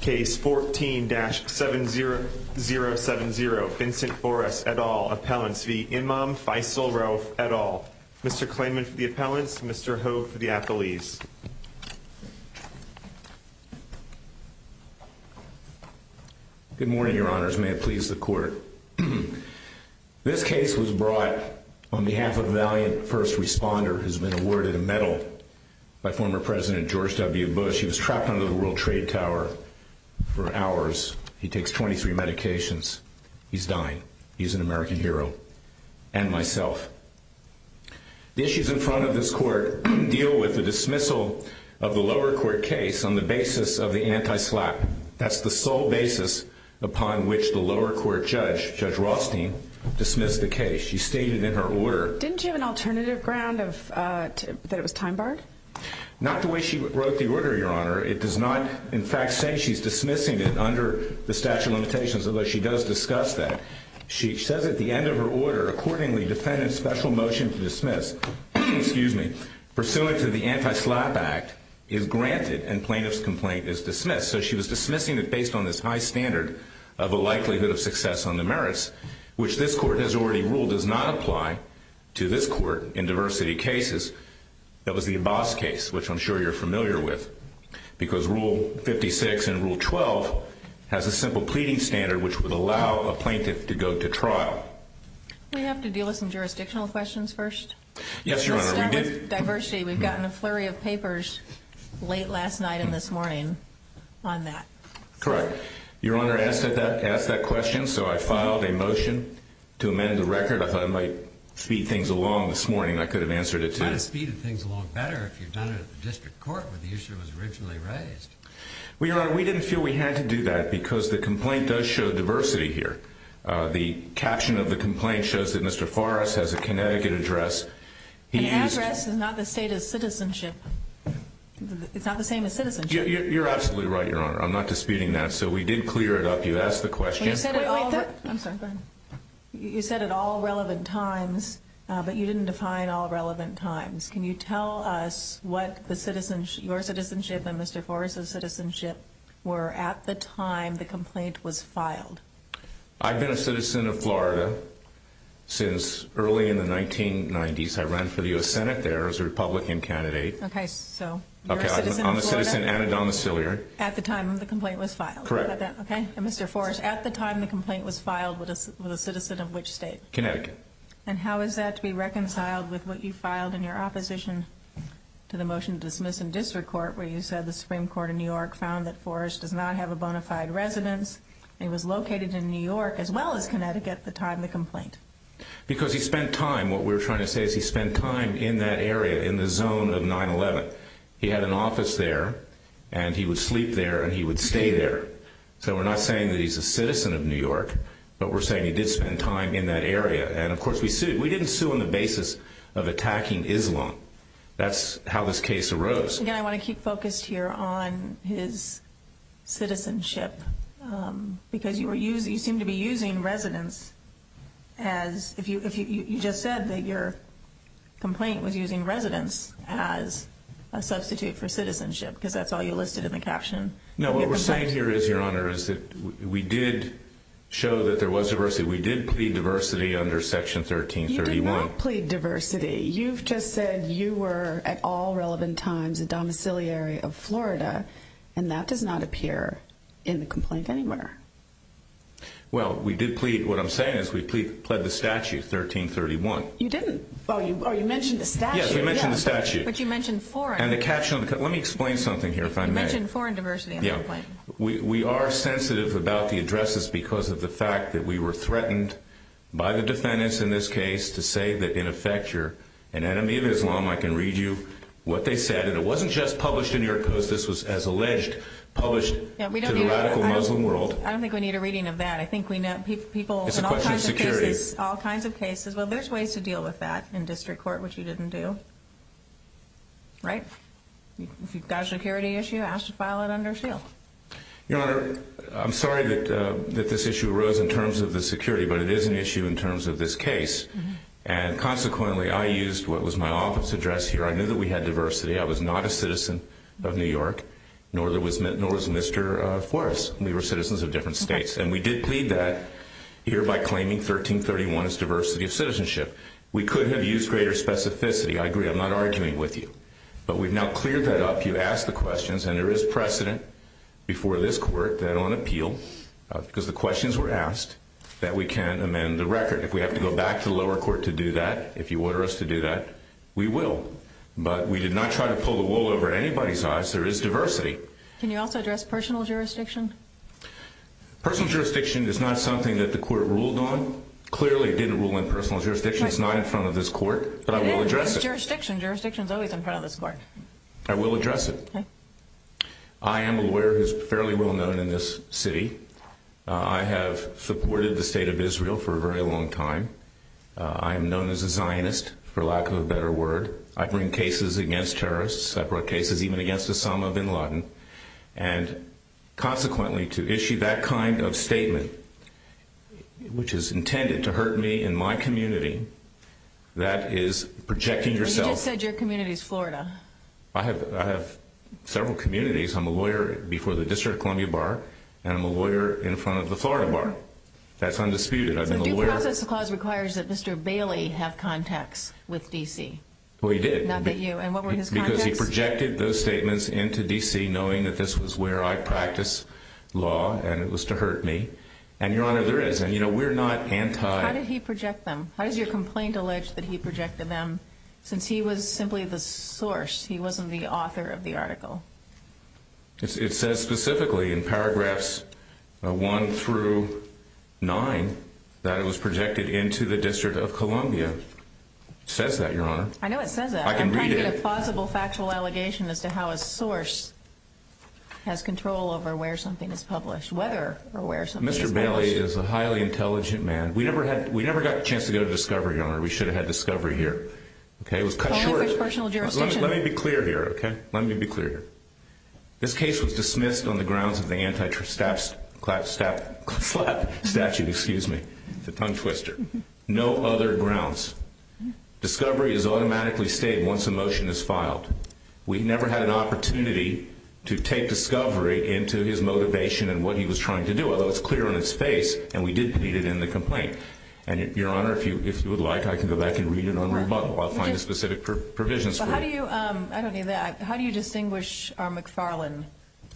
Case 14-70070 Vincent Forras et al. Appellants v. Imam Faisal Rauf et al. Mr. Klayman for the appellants, Mr. Ho for the appellees. Good morning your honors, may it please the court. This case was brought on behalf of a valiant first responder who's been awarded a medal by former President George W. Bush. He was trapped under the World Trade Tower for hours. He takes 23 medications. He's dying. He's an American hero and myself. The issues in front of this court deal with the dismissal of the lower court case on the basis of the anti-SLAPP. That's the sole basis upon which the lower court judge, Judge Rothstein, dismissed the case. She stated in her order. Didn't you have an alternative ground that it was time barred? Not the way she wrote the order your honor. It does not in fact say she's dismissing it under the statute of limitations, although she does discuss that. She says at the end of her order, accordingly defendant's special motion to dismiss, excuse me, pursuant to the anti-SLAPP act is granted and plaintiff's complaint is dismissed. So she was dismissing it based on this high standard of a likelihood of success on the merits, which this court has already ruled does not apply to this court in diversity cases. That was the Abbas case, which I'm sure you're familiar with because rule 56 and rule 12 has a simple pleading standard which would allow a plaintiff to go to trial. Do we have to deal with some jurisdictional questions first? Yes your honor. Let's start with diversity. We've gotten a flurry of papers late last night and this morning on that. Correct. Your honor, I asked that question so I filed a motion to amend the record. I thought I might speed things along this morning. I could have answered it too. You might have speeded things along better if you'd done it at the district court where the issue was originally raised. Well your honor, we didn't feel we had to do that because the complaint does show diversity here. The caption of the complaint shows that Mr. Forrest has a Connecticut address. The address is not the state of citizenship. It's not the same as citizenship. You're absolutely right your honor. I'm not disputing that. So we did clear it up. You asked the question. You said at all relevant times, but you didn't define all relevant times. Can you tell us what your citizenship and Mr. Forrest's citizenship were at the time the complaint was filed? I've been a citizen of Florida since early in the 1990s. I ran for the U.S. Senate there as a complainant. Mr. Forrest, at the time the complaint was filed with a citizen of which state? Connecticut. And how is that to be reconciled with what you filed in your opposition to the motion to dismiss in district court where you said the Supreme Court of New York found that Forrest does not have a bona fide residence. He was located in New York as well as Connecticut at the time of the complaint. Because he spent time, what we're trying to say is he spent time in that area in the zone of 9-11. He had an office there and he would sleep there and he would stay there. So we're not saying that he's a citizen of New York, but we're saying he did spend time in that area. And of course we sued. We didn't sue on the basis of attacking Islam. That's how this case arose. Again, I want to keep focused here on his citizenship because you seem to be using residence as if you just said that your complaint was using residence as a substitute for citizenship because that's all you listed in the caption. No, what we're saying here is your honor is that we did show that there was diversity. We did plead diversity under section 1331. You did not plead diversity. You've just said you were at all relevant times a domiciliary of Florida and that does not appear in the complaint anywhere. Well, we did plead, what I'm saying is we plead, pled the statute 1331. You didn't. Oh, you mentioned the statute. Yes, we mentioned the statute. But you mentioned foreign. And the caption, let me explain something here if I may. You mentioned foreign diversity. Yeah, we are sensitive about the addresses because of the fact that we were threatened by the defendants in this case to say that in effect you're an enemy of Islam. I can read you what they said and it wasn't just published in New York Post. This was, as alleged, published to the radical Muslim world. I don't think we need a reading of that. I think we know people in all kinds of cases, all kinds of cases. Well, there's ways to deal with that in district court, which you didn't do, right? If you've got a security issue, ask to file it under seal. Your honor, I'm sorry that this issue arose in terms of the security, but it is an issue in terms of this case. And consequently, I used what was my office address here. I knew that we had diversity. I was not a citizen of New York, nor was Mr. Flores. We were citizens of different states. And we did plead that here by claiming 1331 as diversity of citizenship. We could have used greater specificity. I agree. I'm not arguing with you. But we've now cleared that up. You asked the questions. And there is precedent before this court that on appeal, because the questions were asked, that we can amend the record. If we have to go back to the we will. But we did not try to pull the wool over anybody's eyes. There is diversity. Can you also address personal jurisdiction? Personal jurisdiction is not something that the court ruled on. Clearly, it didn't rule on personal jurisdiction. It's not in front of this court. But I will address it. Jurisdiction. Jurisdiction is always in front of this court. I will address it. I am a lawyer who's fairly well known in this city. I have supported the word. I bring cases against terrorists. I brought cases even against Osama bin Laden. And consequently, to issue that kind of statement, which is intended to hurt me in my community, that is projecting yourself. You just said your community is Florida. I have several communities. I'm a lawyer before the District of Columbia Bar. And I'm a lawyer in front of the Florida Bar. That's undisputed. Due process clause requires that Mr. Bailey have contacts with D.C. Well, he did. Not that you and what were his contacts? He projected those statements into D.C. knowing that this was where I practice law and it was to hurt me. And your honor, there is. And, you know, we're not anti. How did he project them? How does your complaint allege that he projected them since he was simply the source? He wasn't the author of the article. It says specifically in paragraphs one through nine that it was projected into the District of Columbia. It says that your honor. I know it says that I can read it. A possible factual allegation as to how a source has control over where something is published, whether or where Mr. Bailey is a highly intelligent man. We never had we never got a chance to go to discovery. We should have had discovery here. OK, it was cut short. Let me be clear here. OK, let me be clear here. This case was dismissed on the grounds of the anti-statute, excuse me, the tongue twister. No other grounds. Discovery is automatically stated once a motion is filed. We never had an opportunity to take discovery into his motivation and what he was trying to do, although it's clear on his face. And we did need it in the complaint. And your honor, if you if you would like, I can go back and read it on rebuttal. I'll find the specific provisions. So how do you I don't need that. How do you distinguish our McFarland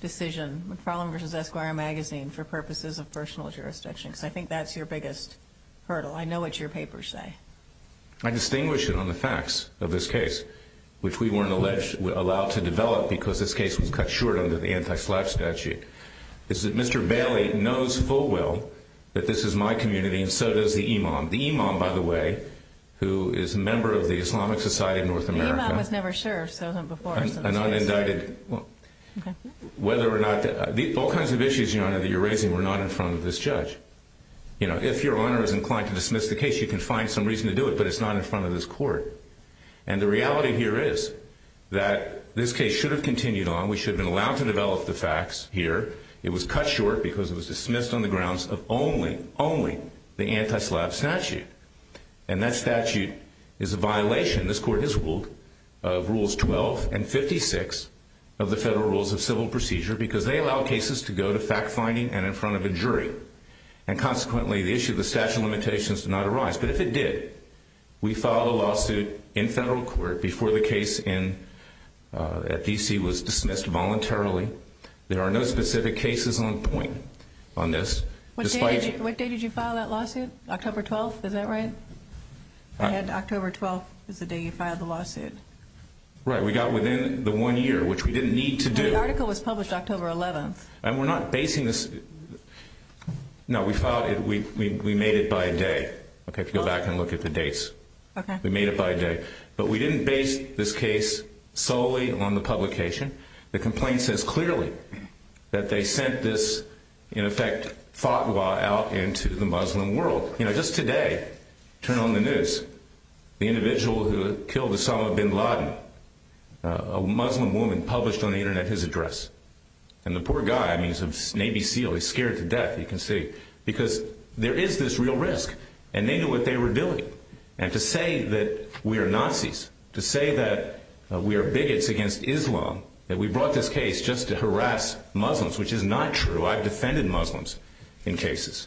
decision? McFarland versus Esquire magazine for purposes of personal jurisdiction, because I think that's your biggest hurdle. I know what your papers say. I distinguish it on the facts of this case, which we weren't alleged allowed to develop because this case was cut short under the anti-slap statute. Is that Mr. Bailey knows full well that this is my community and so does the imam. The imam, by the way, who is a member of the Islamic Society of North America, was never sure. So before an unindicted, whether or not all kinds of issues, you know, that you're raising, we're not in front of this judge. You know, if your honor is inclined to dismiss the case, you can find some reason to do it, but it's not in front of this court. And the reality here is that this case should have continued on. We should have been allowed to develop the facts here. It was cut short because it was dismissed on the grounds of only, only the anti-slap statute. And that statute is a violation, this court has ruled, of rules 12 and 56 of the federal rules of civil procedure because they allow cases to go to fact finding and in front of a jury. And consequently, the issue of the statute of limitations did not arise. But if it did, we filed a lawsuit in federal court before the case in DC was dismissed voluntarily. There are no specific cases on point on this. What date did you file that lawsuit? October 12th. Is that right? I had October 12th is the day you filed the lawsuit. Right. We got within the one year, which we didn't need to do. The article was published October 11th. And we're not basing this. No, we filed it. We made it by day. Okay. Go back and look at the dates. Okay. We made it by day, but we didn't base this case solely on the publication. The complaint says clearly that they sent this in effect fatwa out into the Muslim world. You know, just today, turn on the news, the individual who killed Osama bin Laden, a Muslim woman published on the internet, his address and the poor guy, I mean, he's a Navy SEAL. He's scared to death. You can see because there is this real risk and they knew what they were doing. And to say that we are Nazis, to say that we are bigots against Islam, that we brought this case just to harass Muslims, which is not true. I've defended Muslims in cases.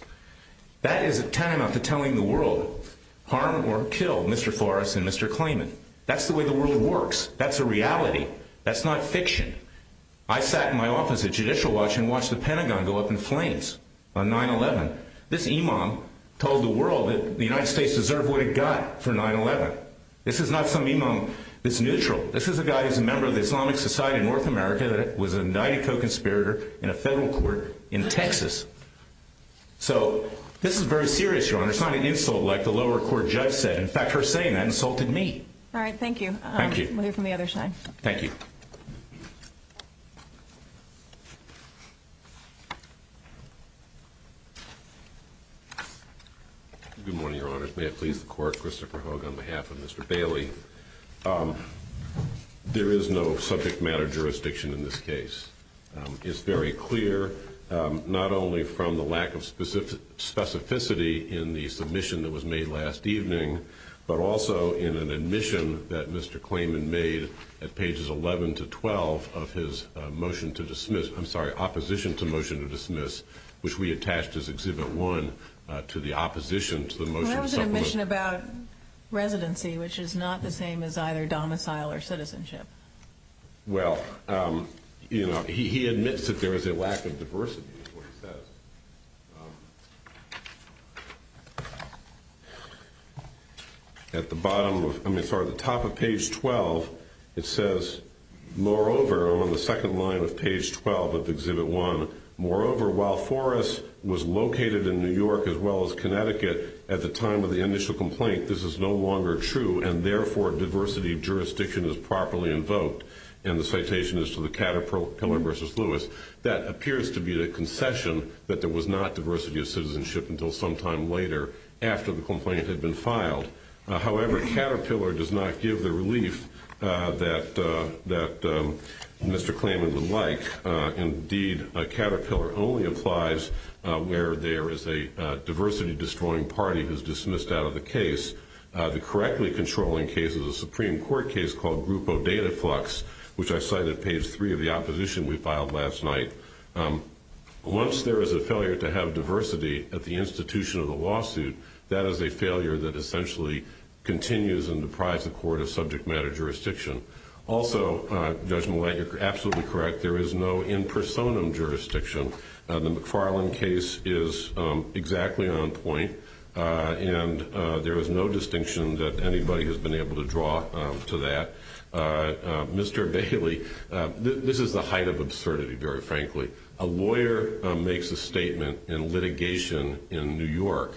That is a timeout to telling the world harm or kill Mr. Forrest and Mr. Klayman. That's the way the world works. That's a reality. That's not fiction. I sat in my office at Judicial Watch and watched the Pentagon go up on 9-11. This imam told the world that the United States deserved what it got for 9-11. This is not some imam that's neutral. This is a guy who's a member of the Islamic Society of North America that was an indicted co-conspirator in a federal court in Texas. So this is very serious, Your Honor. It's not an insult like the lower court judge said. In fact, her saying that insulted me. All right. Thank you. Thank you. We'll hear from the other side. Thank you. Good morning, Your Honors. May it please the Court, Christopher Hogue on behalf of Mr. Bailey. There is no subject matter jurisdiction in this case. It's very clear, not only from the lack of specificity in the submission that was made last evening, but also in an admission that Mr. Bailey made on pages 11 to 12 of his motion to dismiss, I'm sorry, opposition to motion to dismiss, which we attached as Exhibit 1 to the opposition to the motion. But that was an admission about residency, which is not the same as either domicile or citizenship. Well, you know, he admits that there is a lack of diversity, is what he says. At the top of page 12, it says, moreover, on the second line of page 12 of Exhibit 1, moreover, while Forrest was located in New York as well as Connecticut at the time of the initial complaint, this is no longer true, and therefore diversity of jurisdiction is properly invoked. And the citation is to the Caterpillar v. Lewis. That appears to be the concession that there was not diversity of citizenship until some time later after the complaint had been filed. However, Caterpillar does not give the relief that Mr. Klaman would like. Indeed, Caterpillar only applies where there is a diversity-destroying party who is dismissed out of the case. The correctly controlling case is a Supreme Court case called Grupo Dataflux, which I cite at page 3 of the opposition we filed last night. Once there is a failure to have diversity at the institution of the lawsuit, that is a failure that essentially continues and deprives the court of subject matter jurisdiction. Also, Judge Millett, you're absolutely correct. There is no in personam jurisdiction. The McFarland case is exactly on point, and there is no distinction that anybody has been able to draw to that. Mr. Bailey, this is the height of absurdity, very frankly. A lawyer makes a statement in litigation in New York.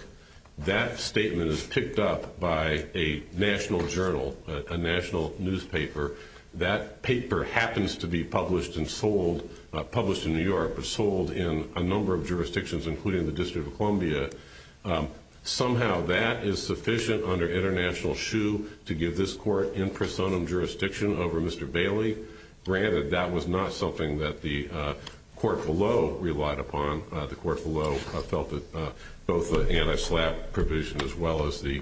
That statement is picked up by a national journal, a national in a number of jurisdictions, including the District of Columbia. Somehow that is sufficient under international shoe to give this court in personam jurisdiction over Mr. Bailey. Granted, that was not something that the court below relied upon. The court below felt that both the anti-SLAPP provision as well as the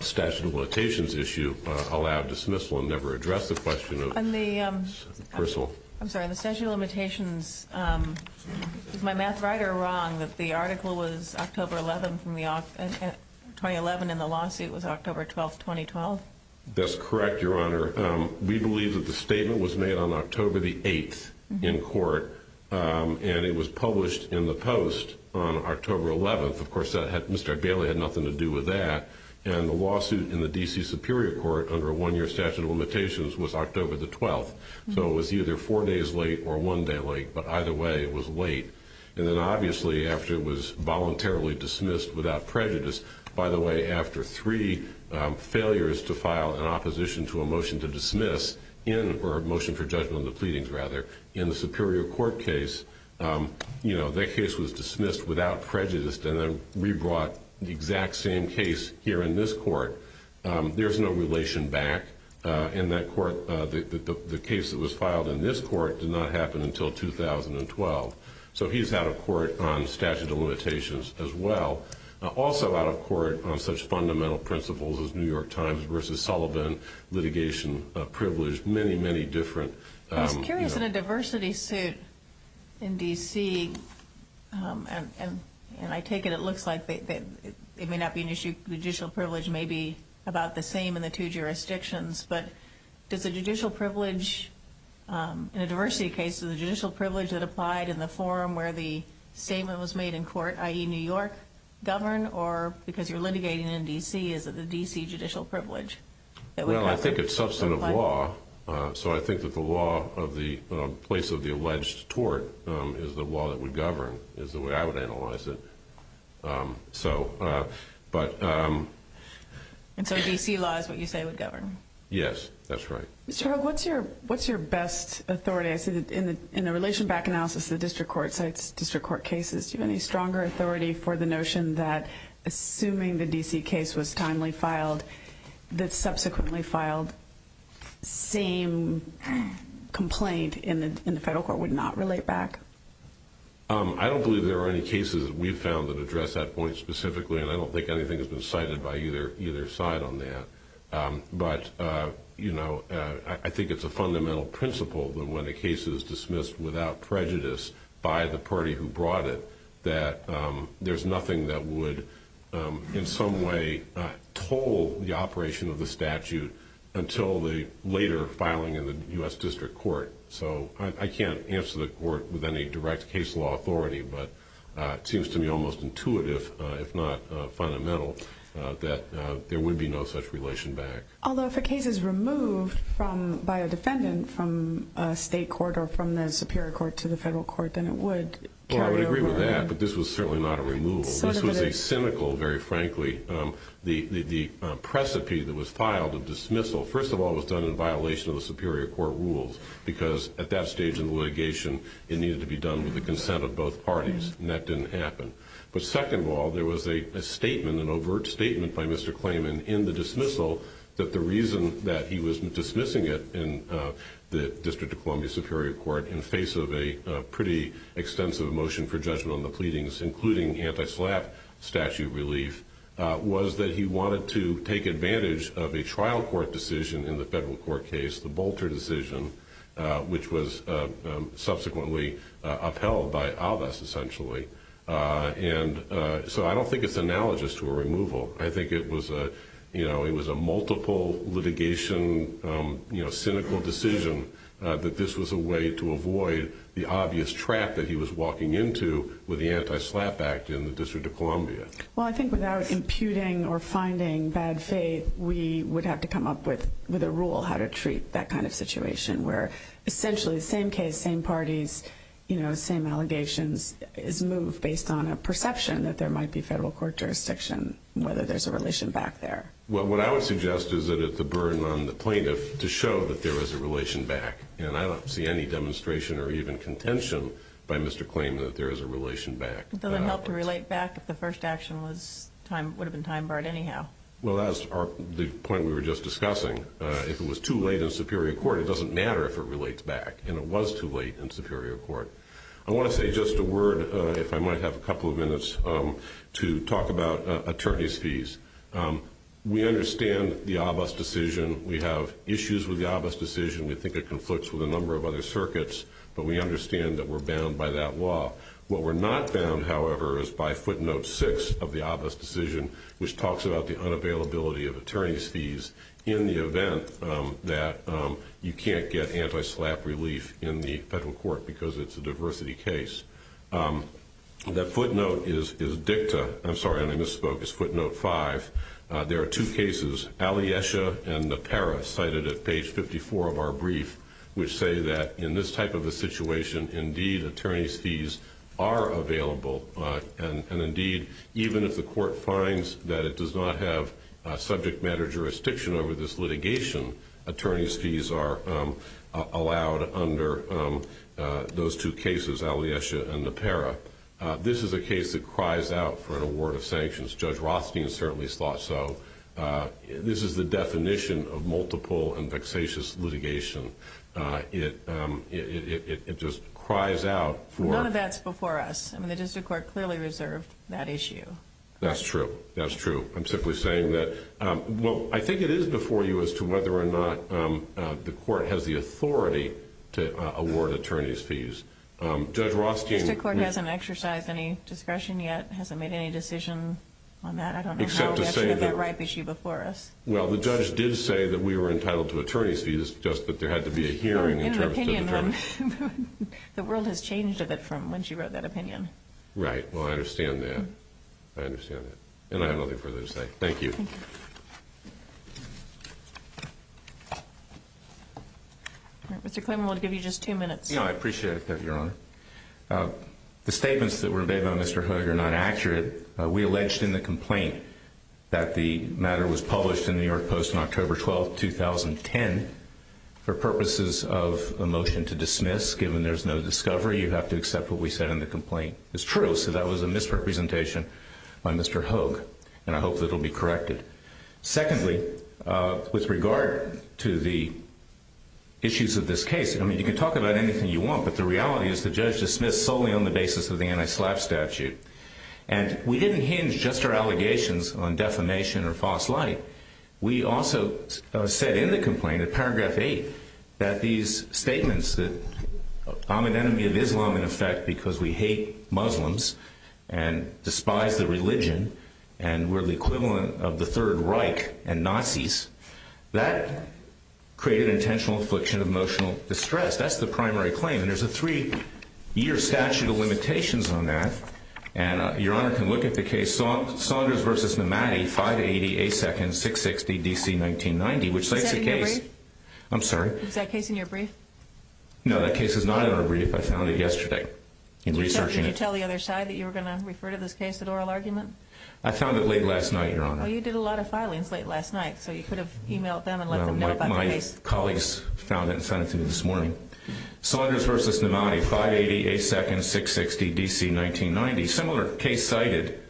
statute of limitations issue allowed dismissal and never addressed the question. On the statute of limitations, is my math right or wrong that the article was October 11, 2011, and the lawsuit was October 12, 2012? That's correct, Your Honor. We believe that the statement was made on October the 8th in court, and it was published in the Post on October 11th. Of course, Mr. Bailey had nothing to do with that, and the lawsuit in the D.C. Superior Court under a one-year statute of the 12th. So it was either four days late or one day late, but either way, it was late. And then obviously, after it was voluntarily dismissed without prejudice, by the way, after three failures to file an opposition to a motion to dismiss, or a motion for judgment of the pleadings, rather, in the Superior Court case, that case was dismissed without prejudice and then brought the exact same case here in this court. There's no relation back in that court. The case that was filed in this court did not happen until 2012. So he's out of court on statute of limitations as well. Also out of court on such fundamental principles as New York Times versus Sullivan, litigation, privilege, many, many different... It may not be an issue. Judicial privilege may be about the same in the two jurisdictions, but does the judicial privilege, in a diversity case, does the judicial privilege that applied in the forum where the statement was made in court, i.e. New York, govern? Or because you're litigating in D.C., is it the D.C. judicial privilege? Well, I think it's substantive law. So I think that the law of the place of the alleged tort is the law that would govern, is the way I would analyze it. And so D.C. law is what you say would govern? Yes, that's right. Mr. Hogue, what's your best authority? I see that in the relation back analysis of the district court cases, do you have any stronger authority for the notion that assuming the D.C. case was timely filed, that subsequently filed, same complaint in the federal court would not relate back? I don't believe there are any found that address that point specifically, and I don't think anything has been cited by either side on that. But I think it's a fundamental principle that when a case is dismissed without prejudice by the party who brought it, that there's nothing that would in some way toll the operation of the statute until the later filing in the U.S. district court. So I can't answer the court with any direct case law authority, but it seems to me almost intuitive, if not fundamental, that there would be no such relation back. Although if a case is removed by a defendant from a state court or from the superior court to the federal court, then it would carry over. Well, I would agree with that, but this was certainly not a removal. This was a cynical, very frankly, the precipice that was filed, the dismissal, first of all, was done in violation of the superior court rules, because at that stage in the litigation, it needed to be done with the consent of both parties, and that didn't happen. But second of all, there was a statement, an overt statement by Mr. Klayman in the dismissal that the reason that he was dismissing it in the District of Columbia Superior Court in face of a pretty extensive motion for judgment on the pleadings, including anti-SLAPP statute relief, was that he wanted to take advantage of a trial court decision in the federal court case, the Bolter decision, which was subsequently upheld by ALVAS, essentially. And so I don't think it's analogous to a removal. I think it was a, you know, it was a multiple litigation, you know, cynical decision that this was a way to avoid the obvious trap that he was walking into with the anti-SLAPP act in the District of Columbia. Well, I think without imputing or finding bad faith, we would have to come up with a rule how to treat that kind of situation, where essentially the same case, same parties, you know, same allegations is moved based on a perception that there might be federal court jurisdiction, whether there's a relation back there. Well, what I would suggest is that it's a burden on the plaintiff to show that there is a relation back, and I don't see any demonstration or even contention by Mr. Klayman that there is a relation back. Does it help to relate back if the first action would have been time barred anyhow? Well, that's the point we were just discussing. If it was too late in Superior Court, it doesn't matter if it relates back, and it was too late in Superior Court. I want to say just a word, if I might have a couple of minutes, to talk about attorney's fees. We understand the ALVAS decision. We have issues with the ALVAS decision. We think it conflicts with a number of other circuits, but we understand that we're bound by that law. What we're not bound, however, is by footnote six of the ALVAS decision, which talks about the unavailability of attorney's fees in the event that you can't get anti-slap relief in the federal court because it's a diversity case. That footnote is dicta, I'm sorry, and I misspoke, it's footnote five. There are two cases, Alyesha and Napera, cited at page 54 of our brief, which say that in this type of a situation, indeed, attorney's fees are available, and indeed, even if the court finds that it does not have subject matter jurisdiction over this litigation, attorney's fees are allowed under those two cases, Alyesha and Napera. This is a case that cries out for an award of sanctions. Judge Rothstein certainly thought so. This is the definition of multiple and vexatious litigation. It just cries out for- None of that's before us. I mean, the district court clearly reserved that issue. That's true. That's true. I'm simply saying that, well, I think it is before you as to whether or not the court has the authority to award attorney's fees. Judge Rothstein- The district court hasn't exercised any discretion yet, hasn't made any decision on that. I don't know how we actually have that ripe issue before us. Except to say that, well, the judge did say that we were entitled to attorney's fees, just that there had to be a hearing in terms of the terms- The world has changed a bit from when she wrote that opinion. Right. Well, I understand that. I understand that. And I have nothing further to say. Thank you. Mr. Clayman, we'll give you just two minutes. Yeah, I appreciate it, Your Honor. The statements that were made by Mr. Hoog are not accurate. We alleged in the complaint that the matter was published in the New York Post on October 12th, 2010. For purposes of a motion to dismiss, given there's no discovery, you have to accept what we said in the complaint. It's true. So that was a misrepresentation by Mr. Hoog. And I hope that it'll be corrected. Secondly, with regard to the issues of this case, I mean, you can talk about anything you want, but the reality is the judge dismissed solely on the basis of the anti-SLAPP statute. And we didn't hinge just our allegations on defamation or false light. We also said in the complaint, in paragraph eight, that these statements that I'm an enemy of Islam, in effect, because we hate Muslims and despise the religion, and we're the equivalent of the Third Reich and Nazis, that created intentional affliction of emotional distress. That's the primary claim. And there's a three-year statute of limitations on that. And Your Honor can look at the case Saunders v. Nomadi, 580 A. 2nd, 660 D.C., 1990, which states the case. Is that in your brief? I'm sorry? Is that case in your brief? No, that case is not in our brief. I found it yesterday in researching it. Did you tell the other side that you were going to refer to this case as an oral argument? I found it late last night, Your Honor. Well, you did a lot of filings late last night, so you could have emailed them and let them know about the case. My colleagues found it and Saunders v. Nomadi, 580 A. 2nd, 660 D.C., 1990, similar case cited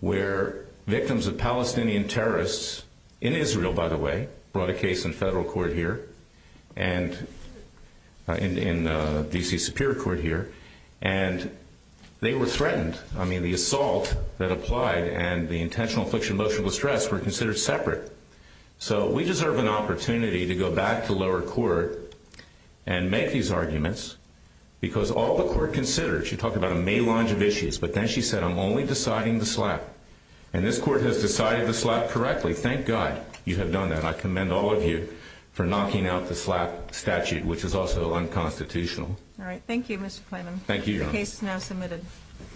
where victims of Palestinian terrorists, in Israel, by the way, brought a case in federal court here, in D.C. Superior Court here, and they were threatened. I mean, the assault that applied and the intentional affliction of emotional distress were considered separate. So we deserve an opportunity to go back to lower court and make these arguments, because all the court considered, she talked about a melange of issues, but then she said, I'm only deciding the slap. And this court has decided the slap correctly. Thank God you have done that. I commend all of you for knocking out the slap statute, which is also unconstitutional. All right. Thank you, Mr. Klaman. Thank you, Your Honor. The case is now submitted.